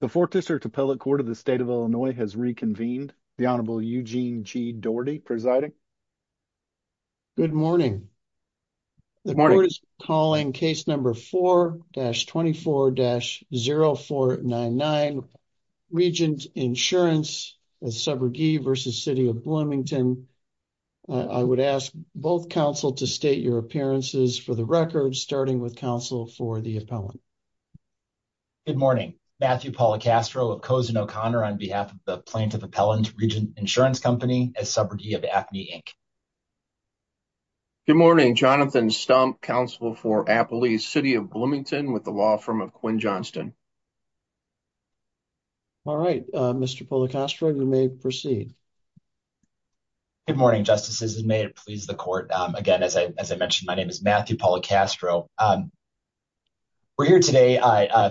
The 4th District Appellate Court of the State of Illinois has reconvened. The Honorable Eugene G. Doherty presiding. Good morning. The court is calling case number 4-24-0499, Regent Insurance v. City of Bloomington. I would ask both counsel to state your appearances for the record, starting with counsel for the appellant. Good morning. Matthew Policastro of Cozen O'Connor on behalf of the plaintiff appellant, Regent Insurance Company, as subordinate of Acme, Inc. Good morning. Jonathan Stump, counsel for Appalachia City of Bloomington with the law firm of Quinn Johnston. All right. Mr. Policastro, you may proceed. Good morning, Justices, and may it please the court. Again, as I mentioned, my name is Matthew Policastro. We're here today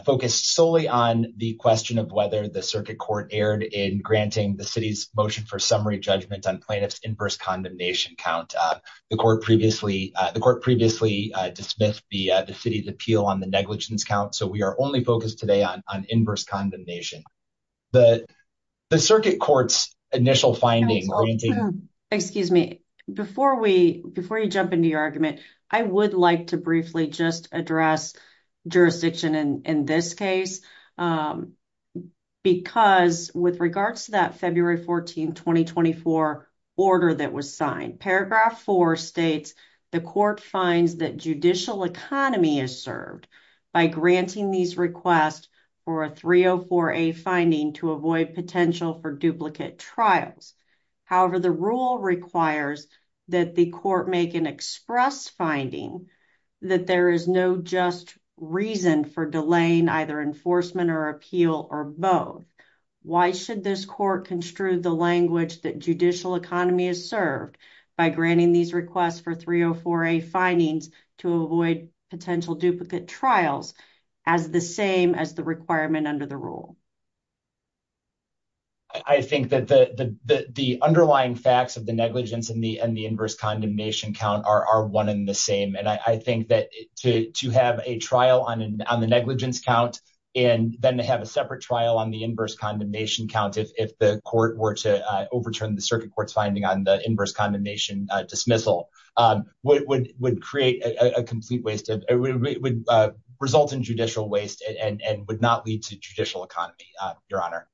focused solely on the question of whether the circuit court erred in granting the city's motion for summary judgment on plaintiff's inverse condemnation count. The court previously dismissed the city's appeal on the negligence count, so we are only focused today on inverse condemnation. The circuit court's initial finding... Excuse me. Before you jump into your argument, I would like to briefly just address jurisdiction in this case, because with regards to that February 14, 2024, order that was signed, paragraph 4 states, the court finds that judicial economy is served by granting these requests for a 304A finding to avoid potential for duplicate trials. However, the rule requires that the court make an express finding that there is no just reason for delaying either enforcement or appeal or both. Why should this court construe the language that judicial economy is served by granting these requests for 304A findings to avoid potential duplicate trials as the same requirement under the rule? I think that the underlying facts of the negligence and the inverse condemnation count are one and the same, and I think that to have a trial on the negligence count and then to have a separate trial on the inverse condemnation count if the court were to overturn the circuit court's finding on the inverse condemnation dismissal would create a complete waste of... It would result in judicial waste and would not lead to judicial economy, Your Honor.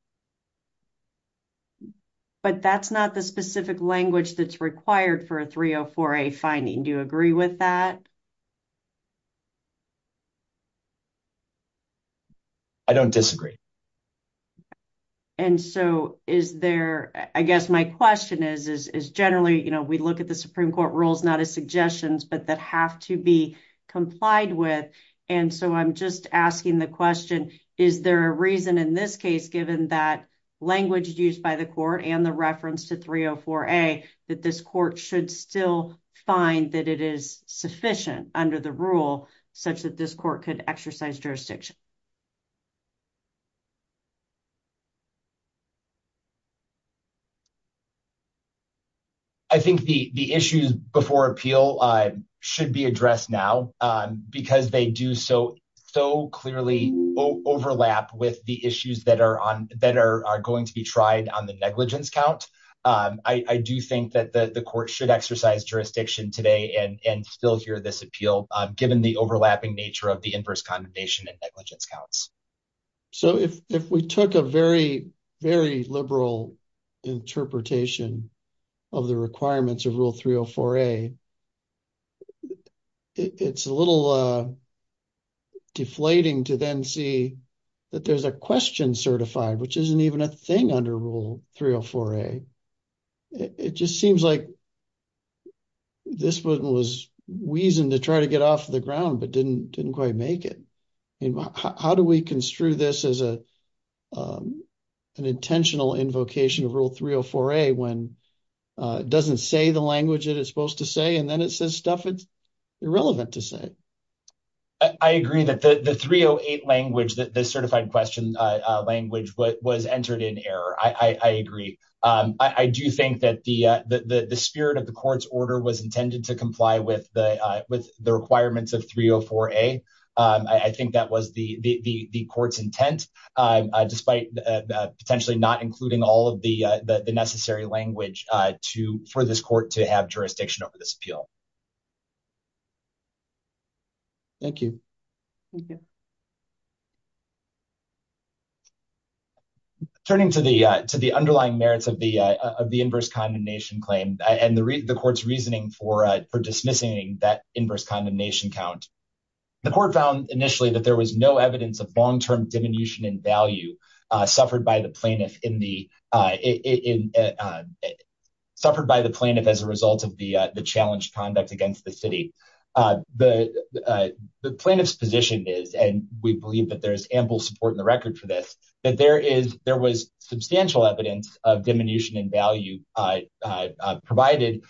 But that's not the specific language that's required for a 304A finding. Do you agree with that? I don't disagree. And so, is there... I guess my question is generally we look at the complied with, and so I'm just asking the question, is there a reason in this case given that language used by the court and the reference to 304A that this court should still find that it is sufficient under the rule such that this court could exercise jurisdiction? I think the issues before appeal should be addressed now because they do so clearly overlap with the issues that are going to be tried on the negligence count. I do think that the court should exercise jurisdiction today and still hear this appeal given the overlapping nature of the inverse condemnation and negligence counts. So, if we took a very, very liberal interpretation of the requirements of Rule 304A, it's a little deflating to then see that there's a question certified, which isn't even a thing under Rule 304A. It just seems like this one was wheezing to try to get off the ground but didn't quite make it. How do we construe this as an intentional invocation of Rule 304A when it doesn't say the language that it's supposed to say, and then it says stuff it's irrelevant to say? I agree that the 308 language, the certified question language, was entered in error. I agree. I do think that the spirit of the court's order was intended to comply with the requirements of 304A. I think that was the court's intent, despite potentially not including all of the necessary language for this court to have jurisdiction over this appeal. Thank you. Turning to the underlying merits of the inverse condemnation claim and the court's reasoning for dismissing that inverse condemnation count, the court found initially that there was no evidence of long-term diminution in value suffered by the plaintiff as a result of the conduct against the city. The plaintiff's position is, and we believe that there is ample support in the record for this, that there was substantial evidence of diminution in value provided,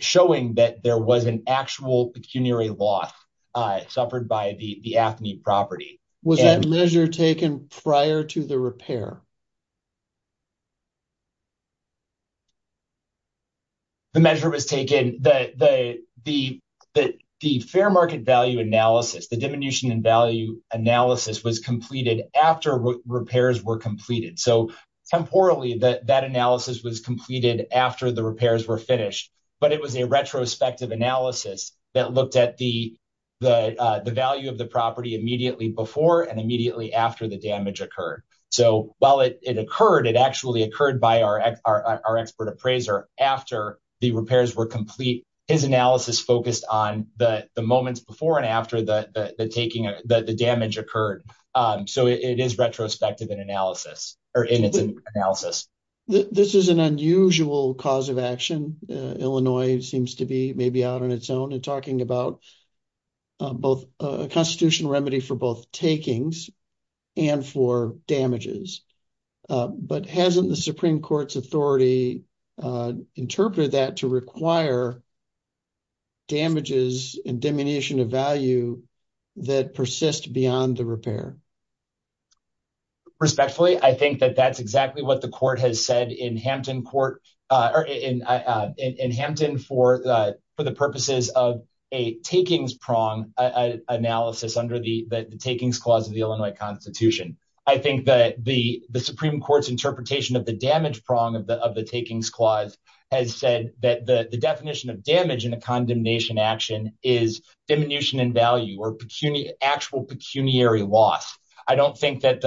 showing that there was an actual pecuniary loss suffered by the AFNI property. Was that measure taken prior to the repair? The measure was taken, the fair market value analysis, the diminution in value analysis was completed after repairs were completed. So, temporally, that analysis was completed after the repairs were finished, but it was a retrospective analysis that looked at the value of the property immediately before and immediately after the damage occurred. So, while it occurred, it actually occurred by our expert appraiser after the repairs were complete. His analysis focused on the moments before and after the damage occurred. So, it is retrospective in its analysis. This is an unusual cause of action. Illinois seems to be a place where damages are required, but hasn't the Supreme Court's authority interpreted that to require damages and diminution of value that persist beyond the repair? Respectfully, I think that that's exactly what the court has said in Hampton for the purposes of a takings-prong analysis under the Takings Clause of the Illinois Constitution. I think that the Supreme Court's interpretation of the damage prong of the Takings Clause has said that the definition of damage in a condemnation action is diminution in value or actual pecuniary loss. I don't think that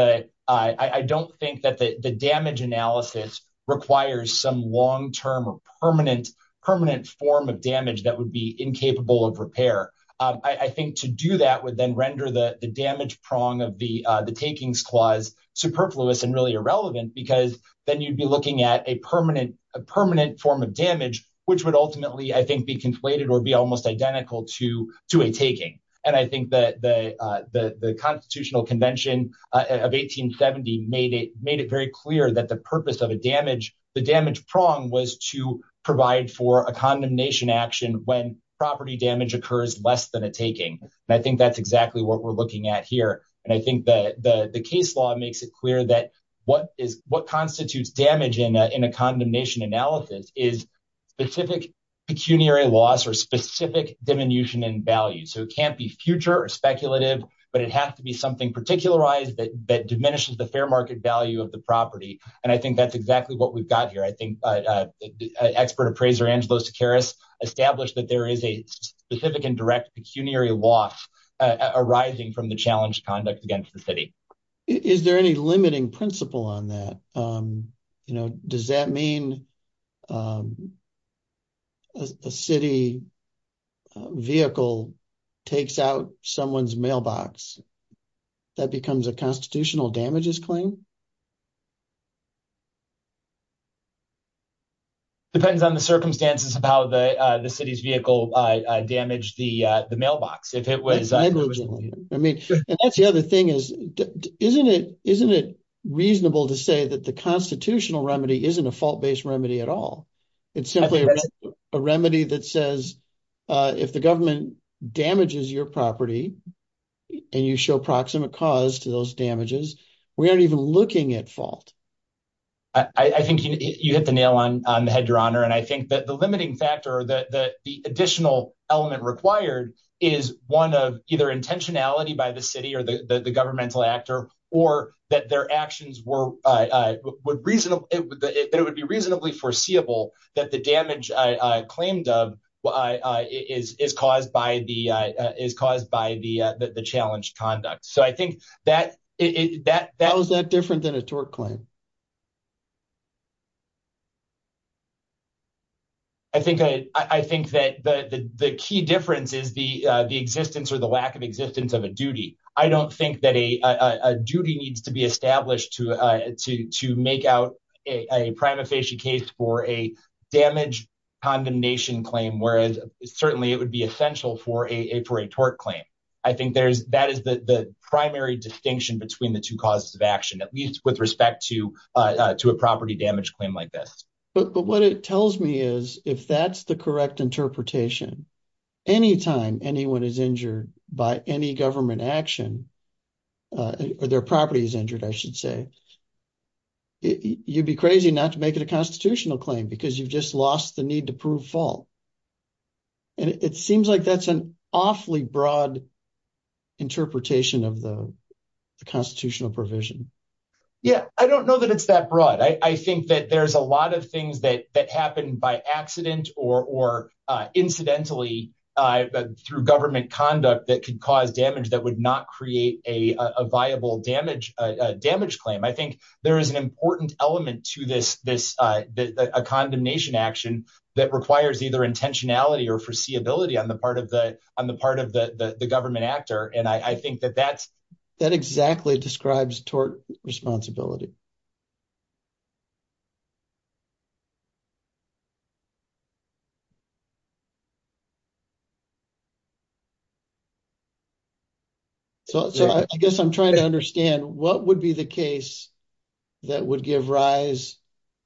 the damage analysis requires some long-term or permanent form of damage that would be capable of repair. I think to do that would then render the damage prong of the Takings Clause superfluous and really irrelevant because then you'd be looking at a permanent form of damage, which would ultimately, I think, be conflated or be almost identical to a taking. I think that the Constitutional Convention of 1870 made it very clear that the purpose of a damage prong was to provide for a condemnation action when property damage occurs less than a taking, and I think that's exactly what we're looking at here. I think the case law makes it clear that what constitutes damage in a condemnation analysis is specific pecuniary loss or specific diminution in value. It can't be future or speculative, but it has to be something particularized that diminishes the fair market value of the property, and I think that's exactly what we've got here. I think expert appraiser Angelo Sequeiros established that there is a specific and direct pecuniary loss arising from the challenged conduct against the city. Is there any limiting principle on that? Does that mean a city vehicle takes out someone's mailbox? That becomes a constitutional damages claim? It depends on the circumstances of how the city's vehicle damaged the mailbox. And that's the other thing. Isn't it reasonable to say that the constitutional remedy isn't a fault-based remedy at all? It's simply a remedy that says if the government damages your property and you show proximate cause to those damages, we aren't even looking at fault. I think you hit the nail on the head, Your Honor, and I think that the limiting factor that the additional element required is one of either intentionality by the city or the governmental actor or that their actions would be reasonably foreseeable that the damage claimed of is caused is caused by the challenged conduct. How is that different than a tort claim? I think that the key difference is the existence or the lack of existence of a duty. I don't think that a duty needs to be established to make out a prima facie case for a damage condemnation claim, whereas certainly it would be essential for a tort claim. I think that is the primary distinction between the two causes of action, at least with respect to a property damage claim like this. But what it tells me is if that's the correct interpretation, anytime anyone is injured by any government action or their property is injured, I should say, you'd be crazy not to make it a constitutional claim because you've just lost the need to prove fault. And it seems like that's an awfully broad interpretation of the constitutional provision. Yeah, I don't know that it's that broad. I think that there's a lot of things that happen by accident or incidentally through government conduct that could cause damage that would not create a viable damage claim. I think there is an important element to a condemnation action that requires either intentionality or foreseeability on the part of the government actor. And I think that exactly describes tort responsibility. So I guess I'm trying to understand what would be the case that would give rise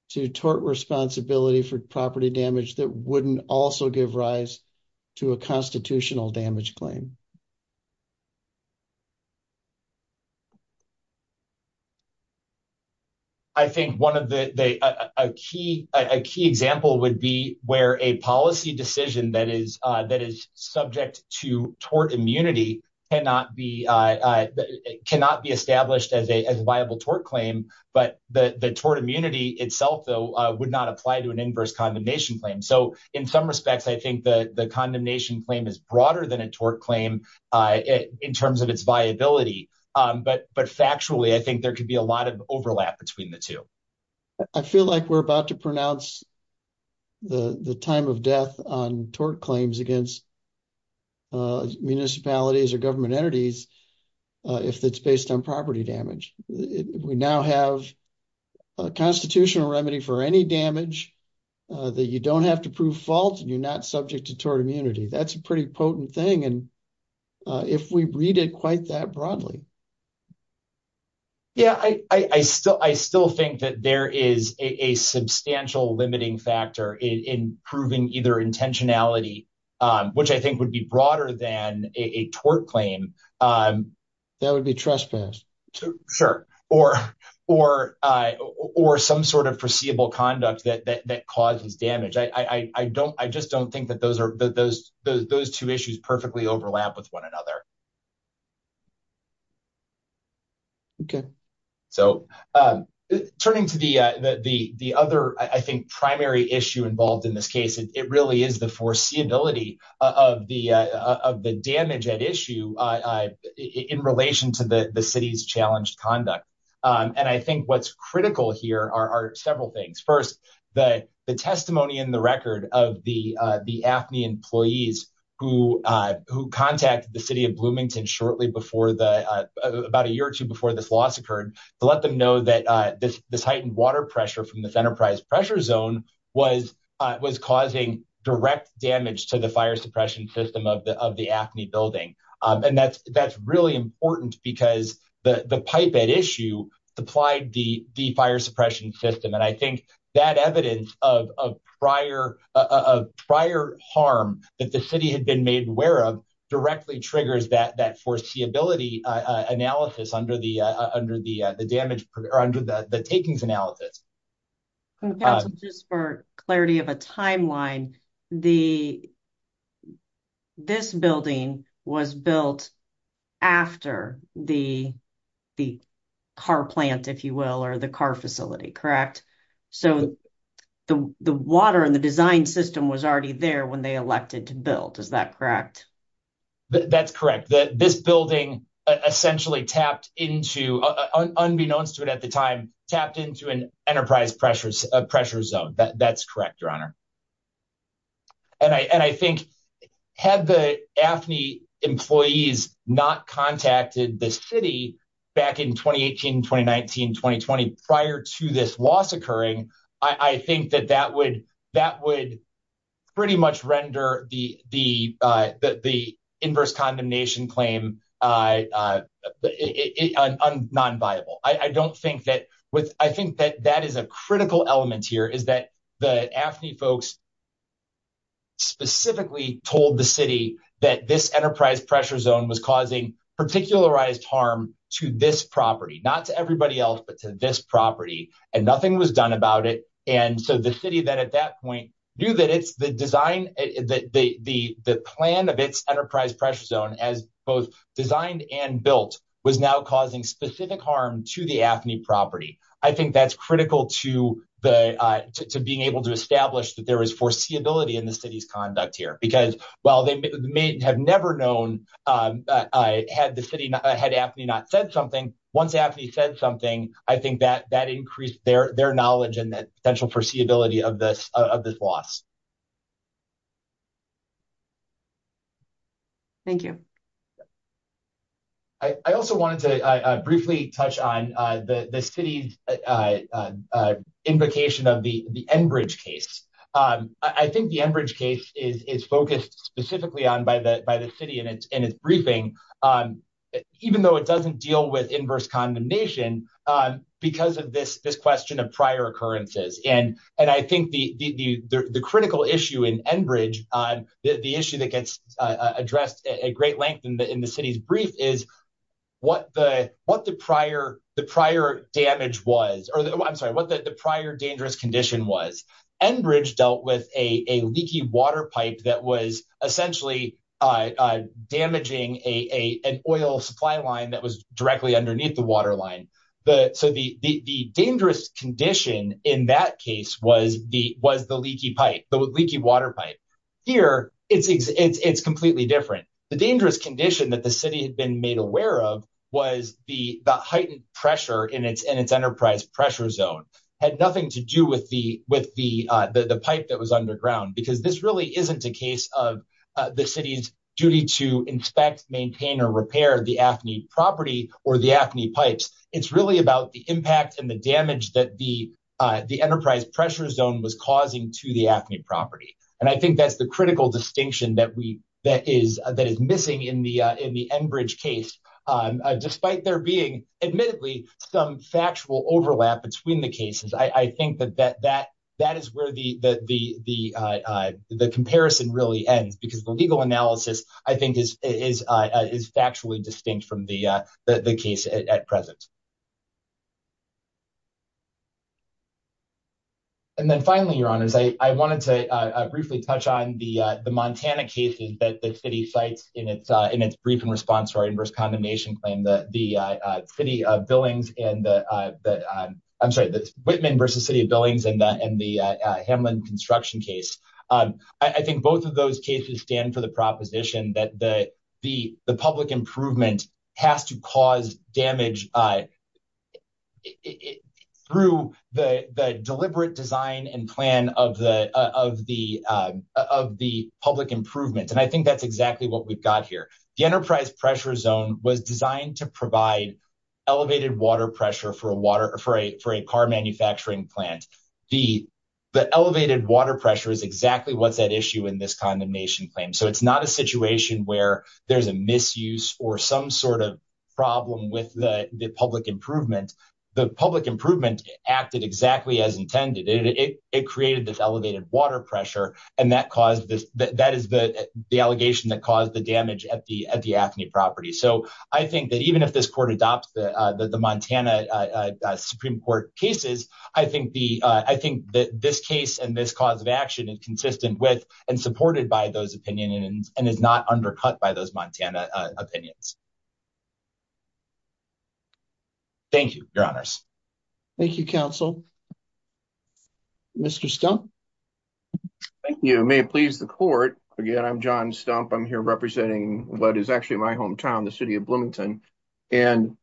to tort responsibility for property damage that wouldn't also give rise to a constitutional damage claim? I think a key example would be where a policy decision that is subject to tort immunity cannot be established as a viable tort claim. But the tort immunity itself, though, would not apply to an inverse condemnation claim. So in some respects, I think the condemnation claim is broader than a tort claim in terms of its viability. But factually, I think there could be a lot of overlap between the two. I feel like we're about to pronounce the time of death on tort claims against municipalities or government entities if it's based on property damage. We now have a constitutional remedy for any damage that you don't have to prove fault and you're not subject to tort immunity. That's a pretty potent thing if we read it quite that broadly. Yeah, I still think that there is a substantial limiting factor in proving either intentionality, which I think would be broader than a tort claim, that would be trespassed. Sure. Or some sort of foreseeable conduct that causes damage. I don't, I just don't think that those two issues perfectly overlap with one another. Okay. So turning to the other, I think, primary issue involved in this case, it really is the foreseeability of the damage at issue in relation to the city's challenged conduct. And I think what's critical here are several things. First, the testimony in the record of the AFNI employees who contacted the city of Bloomington shortly before, about a year or two before this loss occurred, to let them know that this heightened water pressure from pressure zone was causing direct damage to the fire suppression system of the AFNI building. And that's really important because the pipe at issue supplied the fire suppression system. And I think that evidence of prior harm that the city had been made aware of directly triggers that foreseeability analysis under the takings analysis. Just for clarity of a timeline, this building was built after the car plant, if you will, or the car facility, correct? So the water and the design system was already there when they elected to build. Is that correct? That's correct. This building essentially tapped into, unbeknownst to it at the time, tapped into an enterprise pressure zone. That's correct, your honor. And I think had the AFNI employees not contacted the city back in 2018, 2019, 2020 prior to this occurring, I think that that would pretty much render the inverse condemnation claim non-viable. I think that that is a critical element here is that the AFNI folks specifically told the city that this enterprise pressure zone was causing particularized harm to this property, not to it. And so the city then at that point knew that it's the design, the plan of its enterprise pressure zone as both designed and built was now causing specific harm to the AFNI property. I think that's critical to being able to establish that there is foreseeability in the city's conduct here. Because while they may have never known, had AFNI not said something, once AFNI said something, I think that increased their knowledge and that potential foreseeability of this loss. Thank you. I also wanted to briefly touch on the city's invocation of the Enbridge case. I think the Enbridge case is focused specifically on by the city in its briefing, even though it doesn't deal with inverse condemnation, because of this question of prior occurrences. And I think the critical issue in Enbridge, the issue that gets addressed at great length in the city's brief is what the prior damage was, or I'm sorry, what the prior dangerous condition was. Enbridge dealt with a leaky water pipe that was essentially damaging an oil supply line that was directly underneath the water line. So the dangerous condition in that case was the leaky pipe, the leaky water pipe. Here, it's completely different. The dangerous condition that the city had been made aware of was the heightened pressure in its enterprise pressure zone, had nothing to do with the pipe that was underground. Because this really isn't a case of the city's duty to inspect, maintain or repair the AFNI property or the AFNI pipes. It's really about the impact and the damage that the enterprise pressure zone was causing to the AFNI property. And I think that's the critical distinction that is missing in the Enbridge case, despite there being, admittedly, some factual overlap between the cases. I think that is where the comparison really ends, because the legal analysis, I think, is factually distinct from the case at present. And then finally, your honors, I wanted to briefly touch on the Montana cases that the city cites in its brief in response to our inverse condemnation claim that the city of Billings, I'm sorry, the Whitman versus city of Billings and the Hamlin construction case. I think both of those cases stand for the proposition that the public improvement has to cause damage through the deliberate design and plan of the public improvement. And I think that's what we've got here. The enterprise pressure zone was designed to provide elevated water pressure for a car manufacturing plant. The elevated water pressure is exactly what's at issue in this condemnation claim. So it's not a situation where there's a misuse or some sort of problem with the public improvement. The public improvement acted exactly as intended. It created this elevated water pressure, and that is the allegation that caused the damage at the AFNI property. So I think that even if this court adopts the Montana Supreme Court cases, I think that this case and this cause of action is consistent with and supported by those opinions and is not undercut by those Montana opinions. Thank you, your honors. Thank you, counsel. Mr. Stump. Thank you. May it please the court. Again, I'm John Stump. I'm here representing what is actually my hometown, the city of Bloomington. And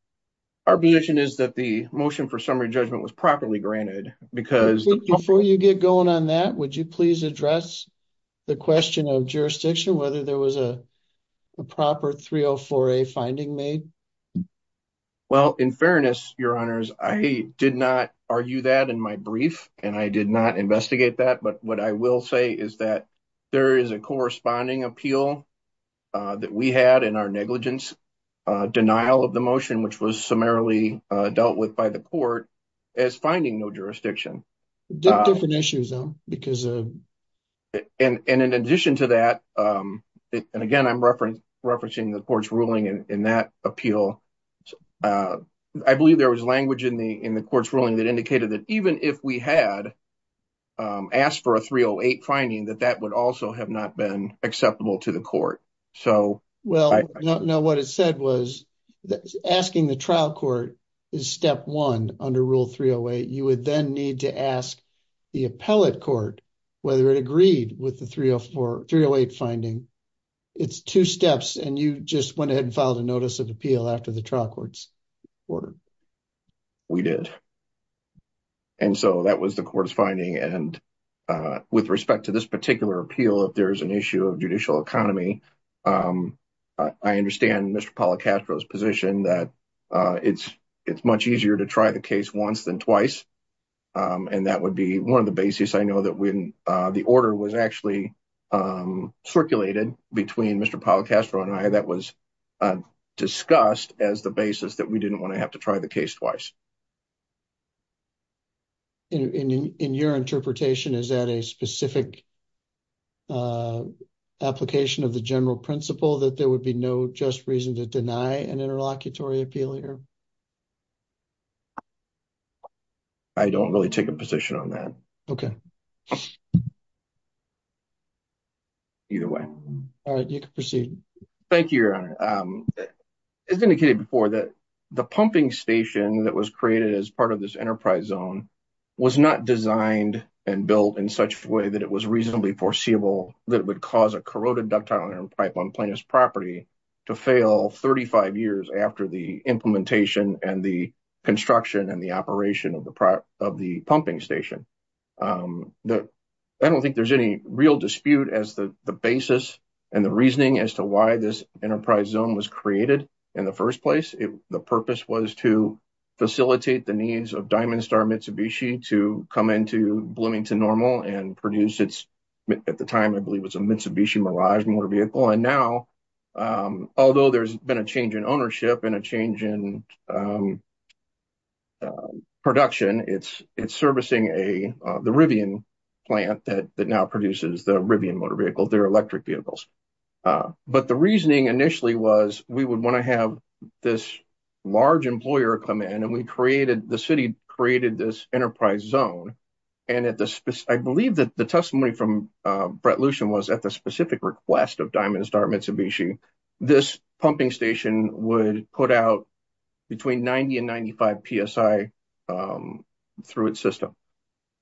our position is that the motion for summary judgment was properly granted. Before you get going on that, would you please address the question of jurisdiction, whether there was a proper 304A finding made? Well, in fairness, your honors, I did not argue that in my brief, and I did not investigate that. But what I will say is that there is a corresponding appeal that we had in our negligence denial of the motion, which was summarily dealt with by the court as finding no jurisdiction. Different issues though, because and in addition to that, and again, I'm referencing the court's ruling in that appeal. So I believe there was language in the court's ruling that indicated that even if we had asked for a 308 finding, that that would also have not been acceptable to the court. So well, no, what it said was asking the trial court is step one under rule 308. You would then need to ask the appellate court whether it agreed with the 308 finding. It's two steps, and you just went ahead and filed a notice of appeal after the trial court's order. We did. And so that was the court's finding. And with respect to this particular appeal, if there is an issue of judicial economy, I understand Mr. Policastro's position that it's much easier to try the case once than twice. And that would be one of the basis. I know that the order was actually circulated between Mr. Policastro and I that was discussed as the basis that we didn't want to have to try the case twice. In your interpretation, is that a specific application of the general principle that there would be no just reason to deny an interlocutory appeal here? I don't really take a position on that. Okay. Either way. All right, you can proceed. Thank you, Your Honor. As indicated before, that the pumping station that was created as part of this enterprise zone was not designed and built in such a way that it was reasonably foreseeable that it would cause a corroded ductile iron pipe on plaintiff's property to fail 35 years after the implementation and the construction and the operation of the pumping station. I don't think there's any real dispute as to the basis and the reasoning as to why this enterprise zone was created in the first place. The purpose was to facilitate the needs of Diamond Star Mitsubishi to come into Bloomington Normal and produce its, at the time I believe it was a Mitsubishi Mirage motor vehicle. And now, although there's been a change in ownership and a change in production, it's servicing the Rivian plant that now produces the Rivian motor vehicle, their electric vehicles. But the reasoning initially was we would want to have this large employer come in and the city created this enterprise zone. And I believe that the this pumping station would put out between 90 and 95 psi through its system.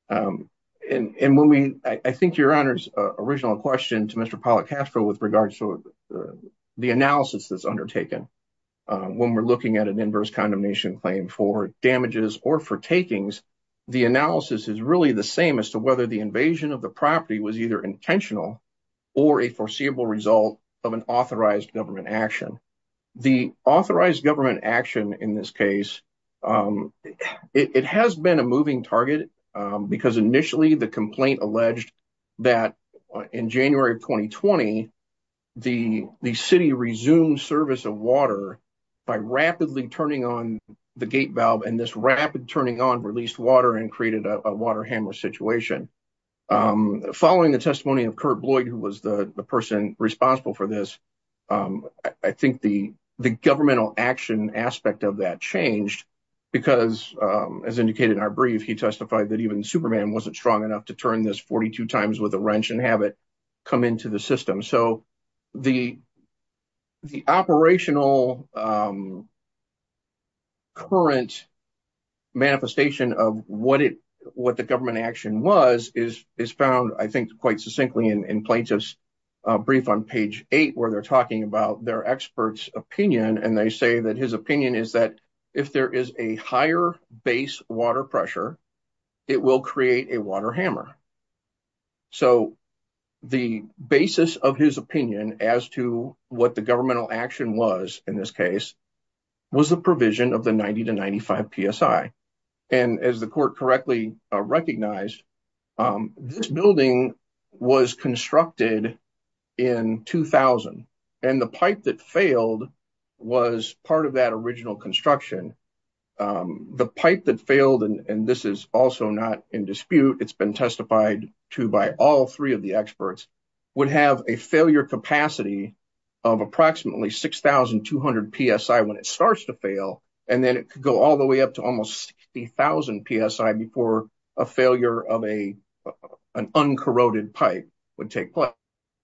And when we, I think your honor's original question to Mr. Policastro with regards to the analysis that's undertaken when we're looking at an inverse condemnation claim for damages or for takings, the analysis is really the same as to whether the invasion of the property was either intentional or a foreseeable result of an authorized government action. The authorized government action in this case, it has been a moving target because initially the complaint alleged that in January of 2020, the city resumed service of water by rapidly turning on the gate valve and this rapid turning on released water and created a water hammer situation. Following the testimony of Kurt Bloyd, who was the person responsible for this, I think the governmental action aspect of that changed because as indicated in our brief, he testified that even Superman wasn't strong enough to turn this 42 times with a wrench and have it come into the So the operational current manifestation of what the government action was is found, I think, quite succinctly in plaintiff's brief on page eight where they're talking about their expert's opinion and they say that his opinion is that if there is a higher base water pressure, it will create a water hammer. So the basis of his opinion as to what the governmental action was in this case was the provision of the 90 to 95 PSI and as the court correctly recognized, this building was constructed in 2000 and the pipe that failed was part of that original construction. The pipe that failed, and this is also not in dispute, it's been testified to by all three of the experts, would have a failure capacity of approximately 6,200 PSI when it starts to fail and then it could go all the way up to almost 60,000 PSI before a failure of an uncorroded pipe would take place.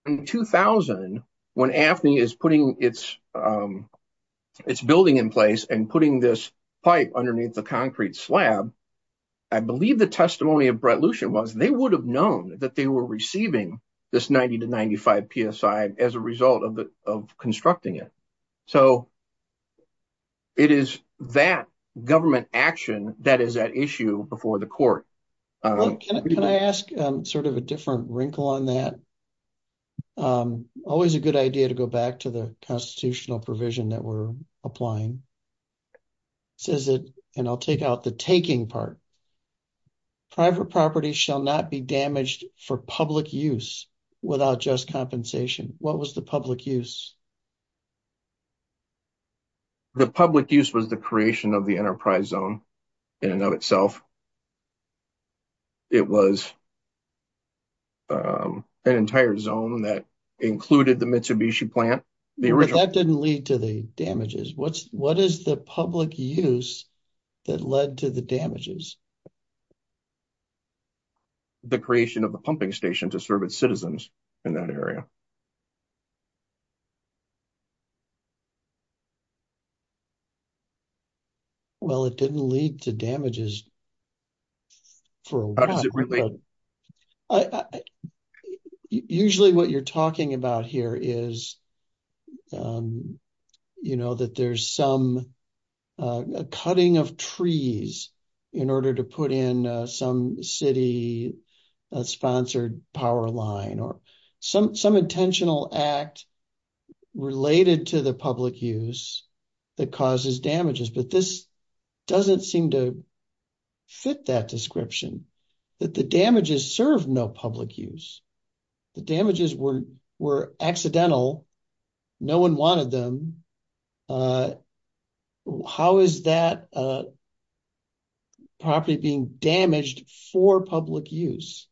In 2000, when AFNI is putting its building in place and putting this pipe underneath the concrete slab, I believe the testimony of Brett Lucien was they would have known that they were receiving this 90 to 95 PSI as a result of constructing it. So it is that government action that is at issue before the court. Can I ask sort of a different wrinkle on that? Always a good idea to go back to the constitutional provision that we're applying. It says that, and I'll take out the taking part, private property shall not be damaged for public use without just compensation. What was the public use? The public use was the creation of the enterprise zone in and of itself. It was an entire zone that included the Mitsubishi plant. But that didn't lead to the damages. What is the public use that led to the damages? The creation of the pumping station to serve its citizens in that area. Well, it didn't lead to damages for a while. Usually what you're talking about here is that there's some cutting of trees in order to put in some city-sponsored power line or some intentional act related to the public use that causes damages. But this doesn't seem to fit that description, that the damages serve no public use. The damages were accidental. No one wanted them. How is that property being damaged for public use?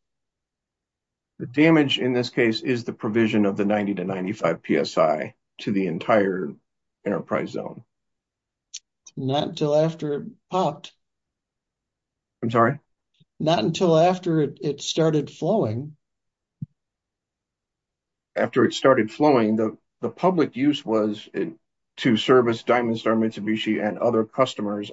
The damage in this case is the provision of the 90 to 95 PSI to the entire enterprise zone. Not until after it popped. I'm sorry? Not until after it started flowing. After it started flowing, the public use was to service Diamond Star Mitsubishi and other companies.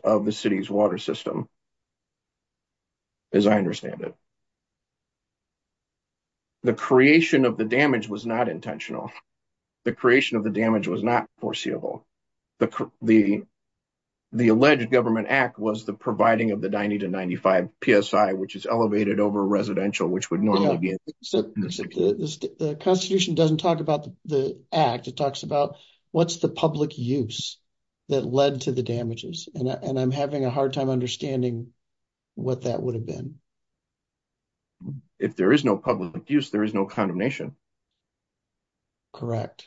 The creation of the damage was not intentional. The creation of the damage was not foreseeable. The alleged government act was the providing of the 90 to 95 PSI, which is elevated over residential, which would normally be... The Constitution doesn't talk about the act. It talks about what's the public use that led to the damages. And I'm having a hard time understanding what that would have been. If there is no public use, there is no condemnation. Correct.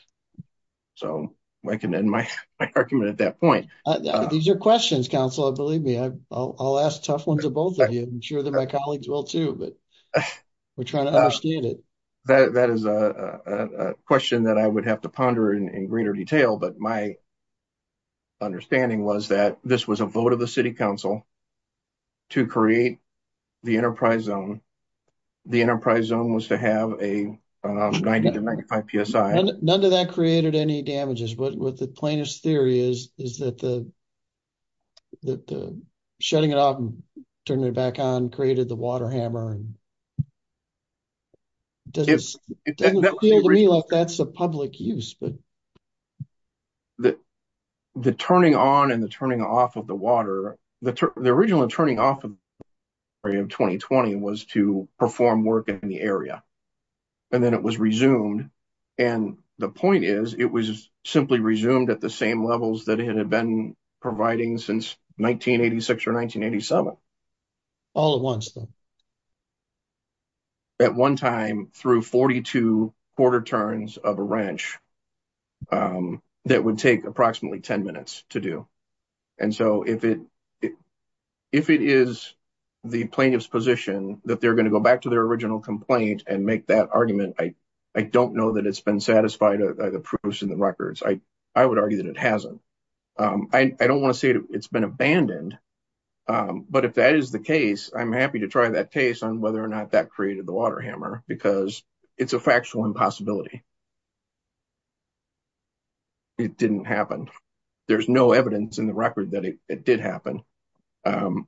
So I can end my argument at that point. These are questions, Councilor, believe me. I'll ask tough ones to both of you. I'm sure that my colleagues will too, but we're trying to understand it. That is a question that I would have to ponder in greater detail, but my understanding was that this was a vote of the City Council to create the enterprise zone. The enterprise zone was to have a 90 to 95 PSI. None of that created any damages. What the plaintiff's theory is, is that the shutting it off and turning it back on created the water hammer. It doesn't feel to me like that's a public use. The turning on and the turning off of the water, the original turning off of the water in 2020 was to perform work in the area. And then it was resumed. And the point is, it was simply resumed at the same levels that it had been providing since 1986 or 1987. All at once? At one time through 42 quarter turns of a ranch that would take approximately 10 minutes to do. And so if it is the plaintiff's position that they're going to go back to their original complaint and make that argument, I don't know that it's been satisfied by the proofs and the case. I'm happy to try that case on whether or not that created the water hammer because it's a factual impossibility. It didn't happen. There's no evidence in the record that it did happen.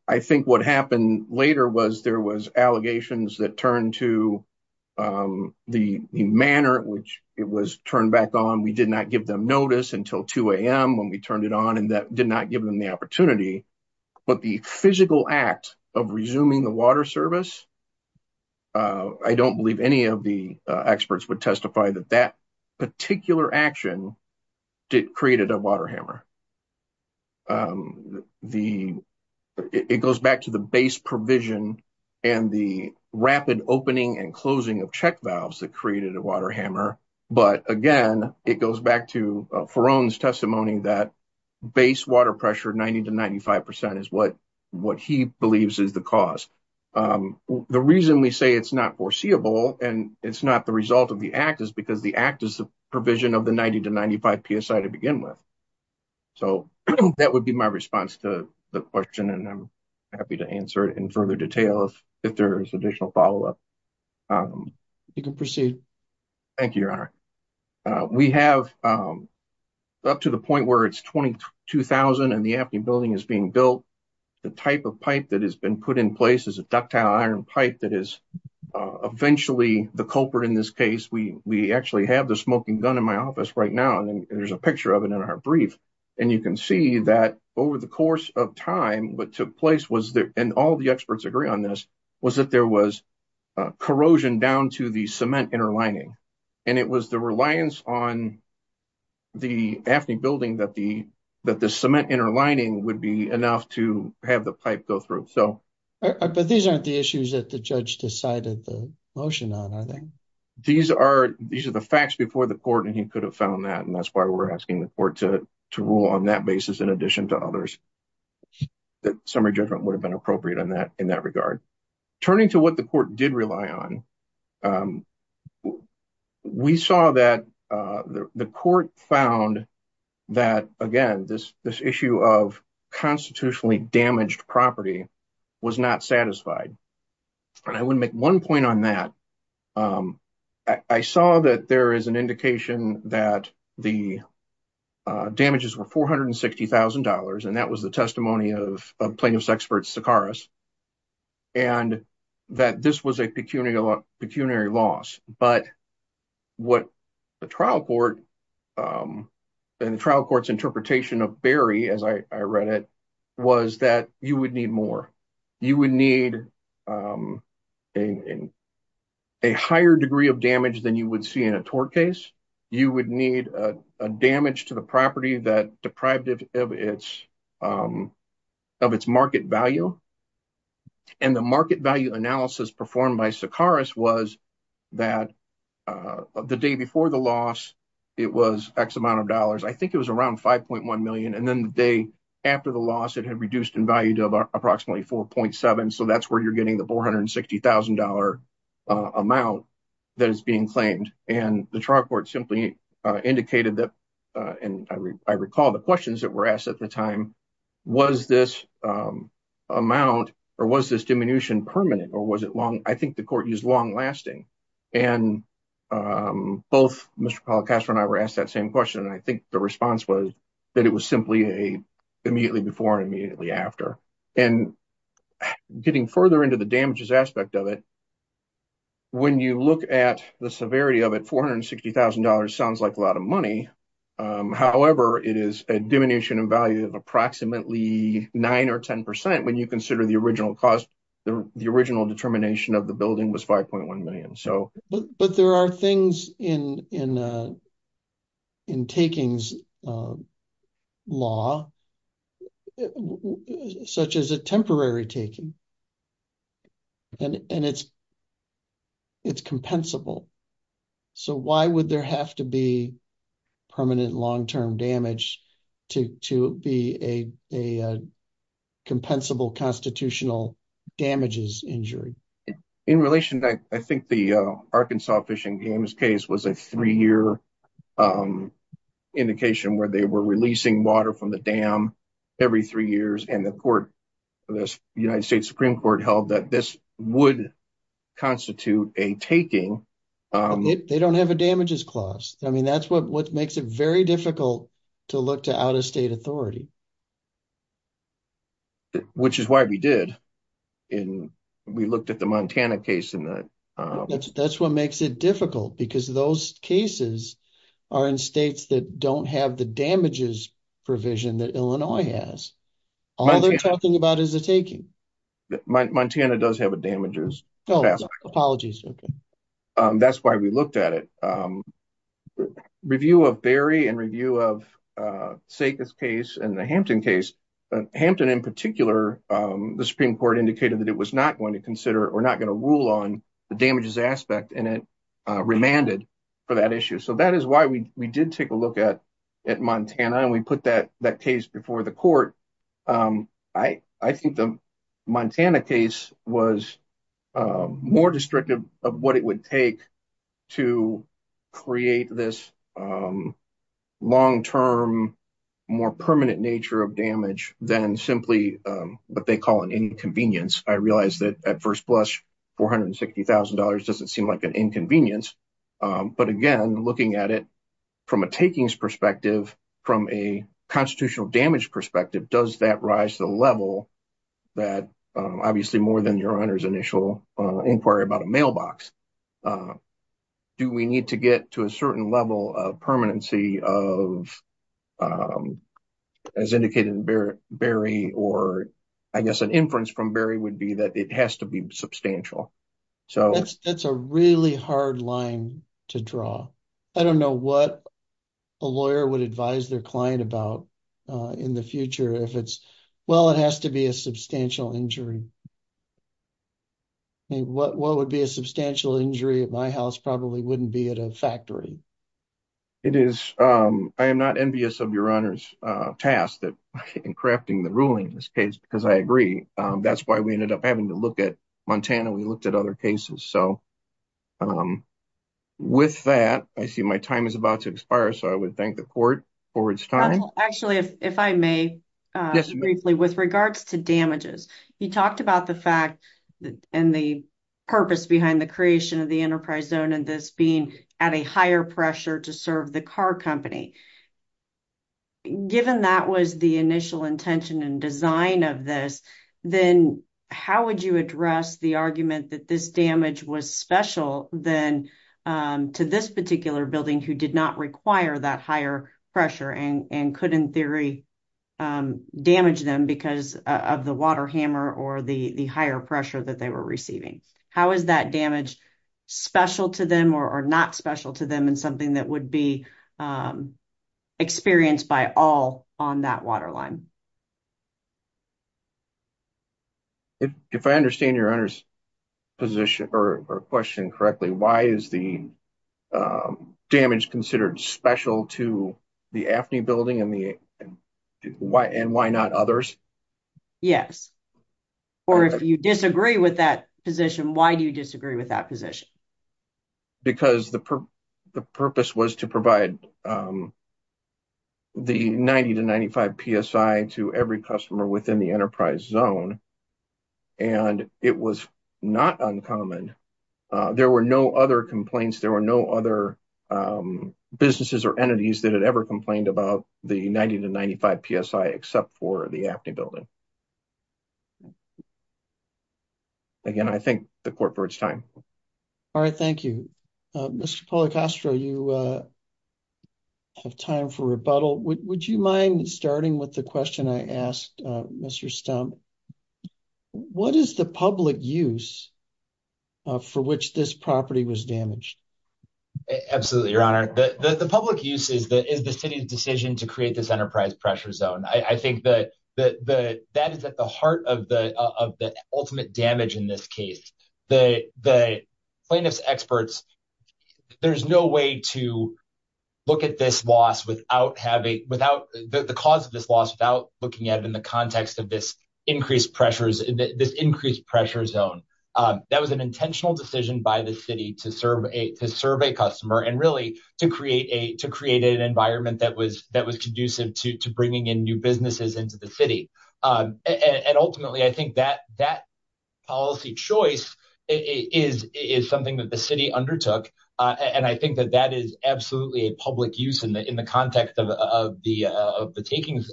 I think what happened later was there was allegations that turned to the manor, which it was turned back on. We did not give them notice until 2 a.m. when we turned it on and did not give them the opportunity. But the physical act of resuming the water service, I don't believe any of the experts would testify that that particular action created a water hammer. It goes back to the base provision and the rapid opening and closing of check valves that created a water hammer. But again, it goes back to Ferone's testimony that base water pressure 90 to 95% is what he believes is the cause. The reason we say it's not foreseeable and it's not the result of the act is because the act is the provision of the 90 to 95 PSI to begin with. So that would be my response to the question and I'm happy to answer it in further detail if there's additional follow-up. You can proceed. Thank you, Your Honor. We have up to the point where it's 22,000 and the Apney building is being built, the type of pipe that has been put in place is a ductile iron pipe that is eventually the culprit in this case. We actually have the smoking gun in my office right now and there's a picture of it in our brief. And you can see that over the time what took place was that, and all the experts agree on this, was that there was corrosion down to the cement inner lining. And it was the reliance on the Apney building that the cement inner lining would be enough to have the pipe go through. But these aren't the issues that the judge decided the motion on, are they? These are the facts before the court and he could have found that and that's why we're asking the court to rule on that basis in addition to others. The summary judgment would have been appropriate in that regard. Turning to what the court did rely on, we saw that the court found that, again, this issue of constitutionally damaged property was not satisfied. And I would make one point on that. I saw that there is an indication that the damages were $460,000 and that was the testimony of plaintiff's expert, Sakaris, and that this was a pecuniary loss. But what the trial court and the trial court's interpretation of Barry, as I read it, was that you would need more. You would need a higher degree of damage than you would see in a tort case. You would need a damage to the property that deprived it of its market value. And the market value analysis performed by Sakaris was that the day before the loss, it was X amount of dollars. I think it was around $5.1 million. And the day after the loss, it had reduced in value to approximately $4.7 million. So that's where you're getting the $460,000 amount that is being claimed. And the trial court simply indicated that, and I recall the questions that were asked at the time, was this amount or was this diminution permanent or was it long? I think the court used long-lasting. And both Mr. Collicaster and I were asked that same question. And I think the response was that it was simply immediately before and immediately after. And getting further into the damages aspect of it, when you look at the severity of it, $460,000 sounds like a lot of money. However, it is a diminution in value of approximately 9 or 10% when you consider the original cost. The original determination of the building was $5.1 million. But there are things in takings law, such as a temporary taking, and it's compensable. So why would there have to be permanent long-term damage to be a compensable constitutional damages injury? In relation, I think the Arkansas Fishing Dams case was a three-year indication where they were releasing water from the dam every three years. And the court, the United States Supreme Court, held that this would constitute a taking. They don't have a damages clause. I mean, that's what makes it very difficult to look to out-of-state authority. Which is why we did. We looked at the Montana case. That's what makes it difficult because those cases are in states that don't have the damages provision that Illinois has. All they're talking about is a taking. Montana does have a damages. Apologies. That's why we looked at it. Review of Berry and review of Saika's case and the Hampton case, Hampton in particular, the Supreme Court indicated that it was not going to consider or not going to rule on the damages aspect and it remanded for that issue. So that is why we did take a look at Montana and we put that case before the court. I think the Montana case was more destructive of what it would take to create this long-term, more permanent nature of damage than simply what they call an inconvenience. I realize that at first blush, $460,000 doesn't seem like an inconvenience. But again, looking at it from a takings perspective, from a constitutional damage perspective, does that rise to the level that obviously more than your Honor's initial inquiry about a mailbox, do we need to get to a certain level of permanency of, as indicated in Berry, or I guess an inference from Berry would be that it has to be substantial. That's a really hard line to draw. I don't know what a lawyer would advise their client about in the future if it's, well, it has to be a substantial injury. What would be a substantial injury at my house probably wouldn't be at a factory. It is. I am not envious of your Honor's task in crafting the ruling in this case because I agree. That's why we ended up having to look at Montana. We looked at other cases. So with that, I see my time is about to expire, so I would thank the court for its time. Actually, if I may, briefly, with regards to damages, you talked about the fact and the purpose behind the creation of the enterprise zone and this being at a higher pressure to serve the car company. Given that was the initial intention and design of this, then how would you address the argument that this damage was special then to this particular building who did not require that higher pressure and could in theory damage them because of the water hammer or the higher pressure that they were receiving? How is that damage special to them or not special to them and something that would be experienced by all on that water line? If I understand your Honor's position or question correctly, why is the damage considered special to the AFNI building and why not others? Yes. Or if you disagree with that position, why do you disagree with that position? Because the purpose was to provide the 90 to 95 psi to every customer within the enterprise zone and it was not uncommon. There were no other complaints, there were no other businesses or entities that had ever complained about the 90 to 95 psi except for the AFNI building. Again, I thank the court for its time. All right, thank you. Mr. Policastro, you have time for rebuttal. Would you mind starting with the question I asked Mr. Stump? What is the public use for which this property was damaged? Absolutely, your Honor. The public use is the city's decision to create this enterprise pressure zone. I think that is at the heart of the ultimate damage in this case. The plaintiff's experts, there's no way to look at the cause of this loss without looking at it in the context of this increased pressure zone. That was an intentional decision by the city to serve a customer and really to create an environment that was conducive to bringing in new businesses into the city. Ultimately, I think that policy choice is something that the city undertook and I think that is absolutely a public use in the context of the taking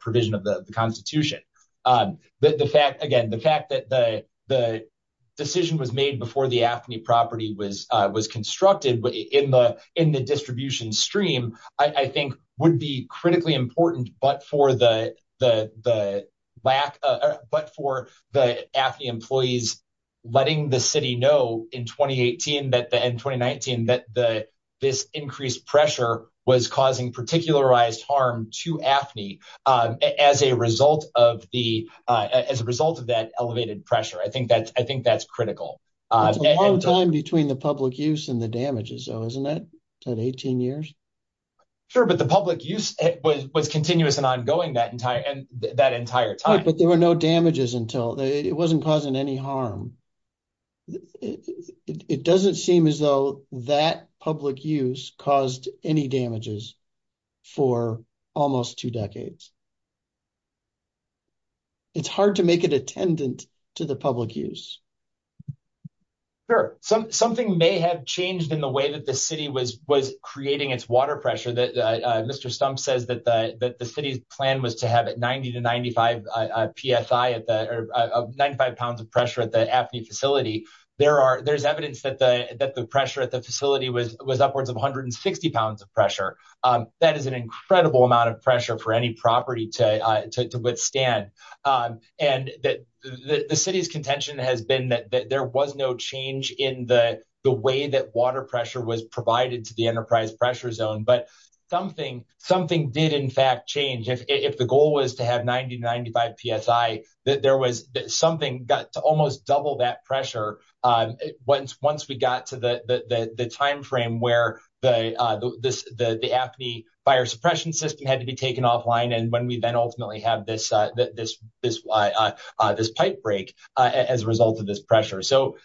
provision of the Constitution. Again, the fact that the decision was made before the AFNI property was constructed in the distribution stream, I think would be critically important but for the AFNI employees letting the know in 2018 and 2019 that this increased pressure was causing particularized harm to AFNI as a result of that elevated pressure. I think that's critical. That's a long time between the public use and the damages though, isn't it? That 18 years? Sure, but the public use was continuous and ongoing that entire time. But there were no damages until. It wasn't causing any harm. It doesn't seem as though that public use caused any damages for almost two decades. It's hard to make it attendant to the public use. Sure, something may have changed in the way that the city was creating its water pressure. Mr. Stumpf says that the city's plan was to have 95 pounds of pressure at the AFNI facility. There's evidence that the pressure at the facility was upwards of 160 pounds of pressure. That is an incredible amount of pressure for any property to withstand. The city's contention has been that there was no change in the way that water pressure was provided to the Enterprise Pressure Zone. But something did in fact change. If the goal was to have 90-95 psi, there was something that almost doubled that pressure once we got to the time frame where the AFNI fire suppression system had to be taken offline and when we then ultimately had this pipe break as a result of this pressure. So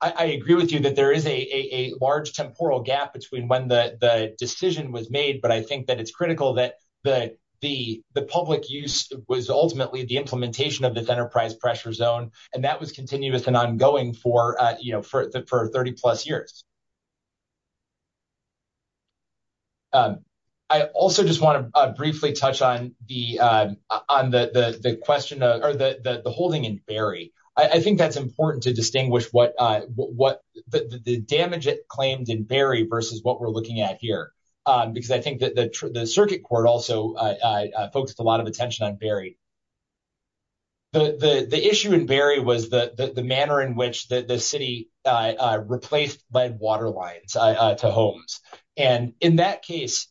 I agree with you that there is a large temporal gap between when the decision was made, but I think that it's critical that the public use was ultimately the implementation of this Enterprise Pressure Zone, and that was continuous and ongoing for 30-plus years. I also just want to briefly touch on the holding in Barrie. I think that's important to distinguish the damage it claimed in Barrie versus what we're looking at here, because I think that the Circuit Court also focused a lot of attention on Barrie. The issue in Barrie was the manner in which the City replaced lead water lines to homes. And in that case,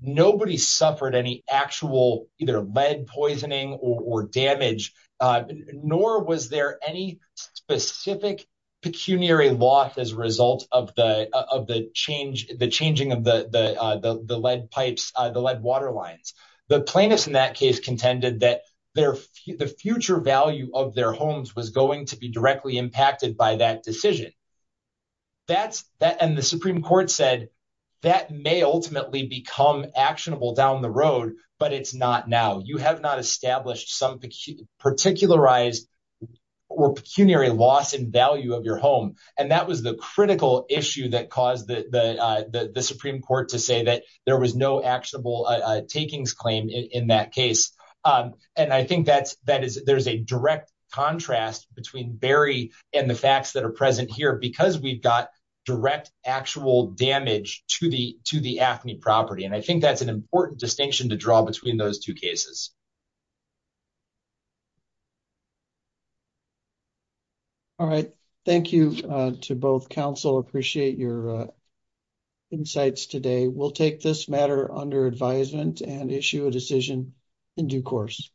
nobody suffered any actual either lead poisoning or damage, nor was there any specific pecuniary loss as a result of the changing of the lead pipes, the lead water lines. The plaintiffs in that case contended that the future value of their homes was going to be directly impacted by that decision. And the Supreme Court said that may ultimately become actionable down the road, but it's not now. You have not established some particularized or pecuniary loss in value of your home. And that was the critical issue that caused the Supreme Court to say that there was no actionable takings claim in that case. And I think there's a direct contrast between Barrie and the facts that are present here, because we've got direct actual damage to the AFNI property. And I think that's an important distinction to draw between those two cases. All right. Thank you to both counsel. Appreciate your insights today. We'll take this matter under advisement and issue a decision in due course.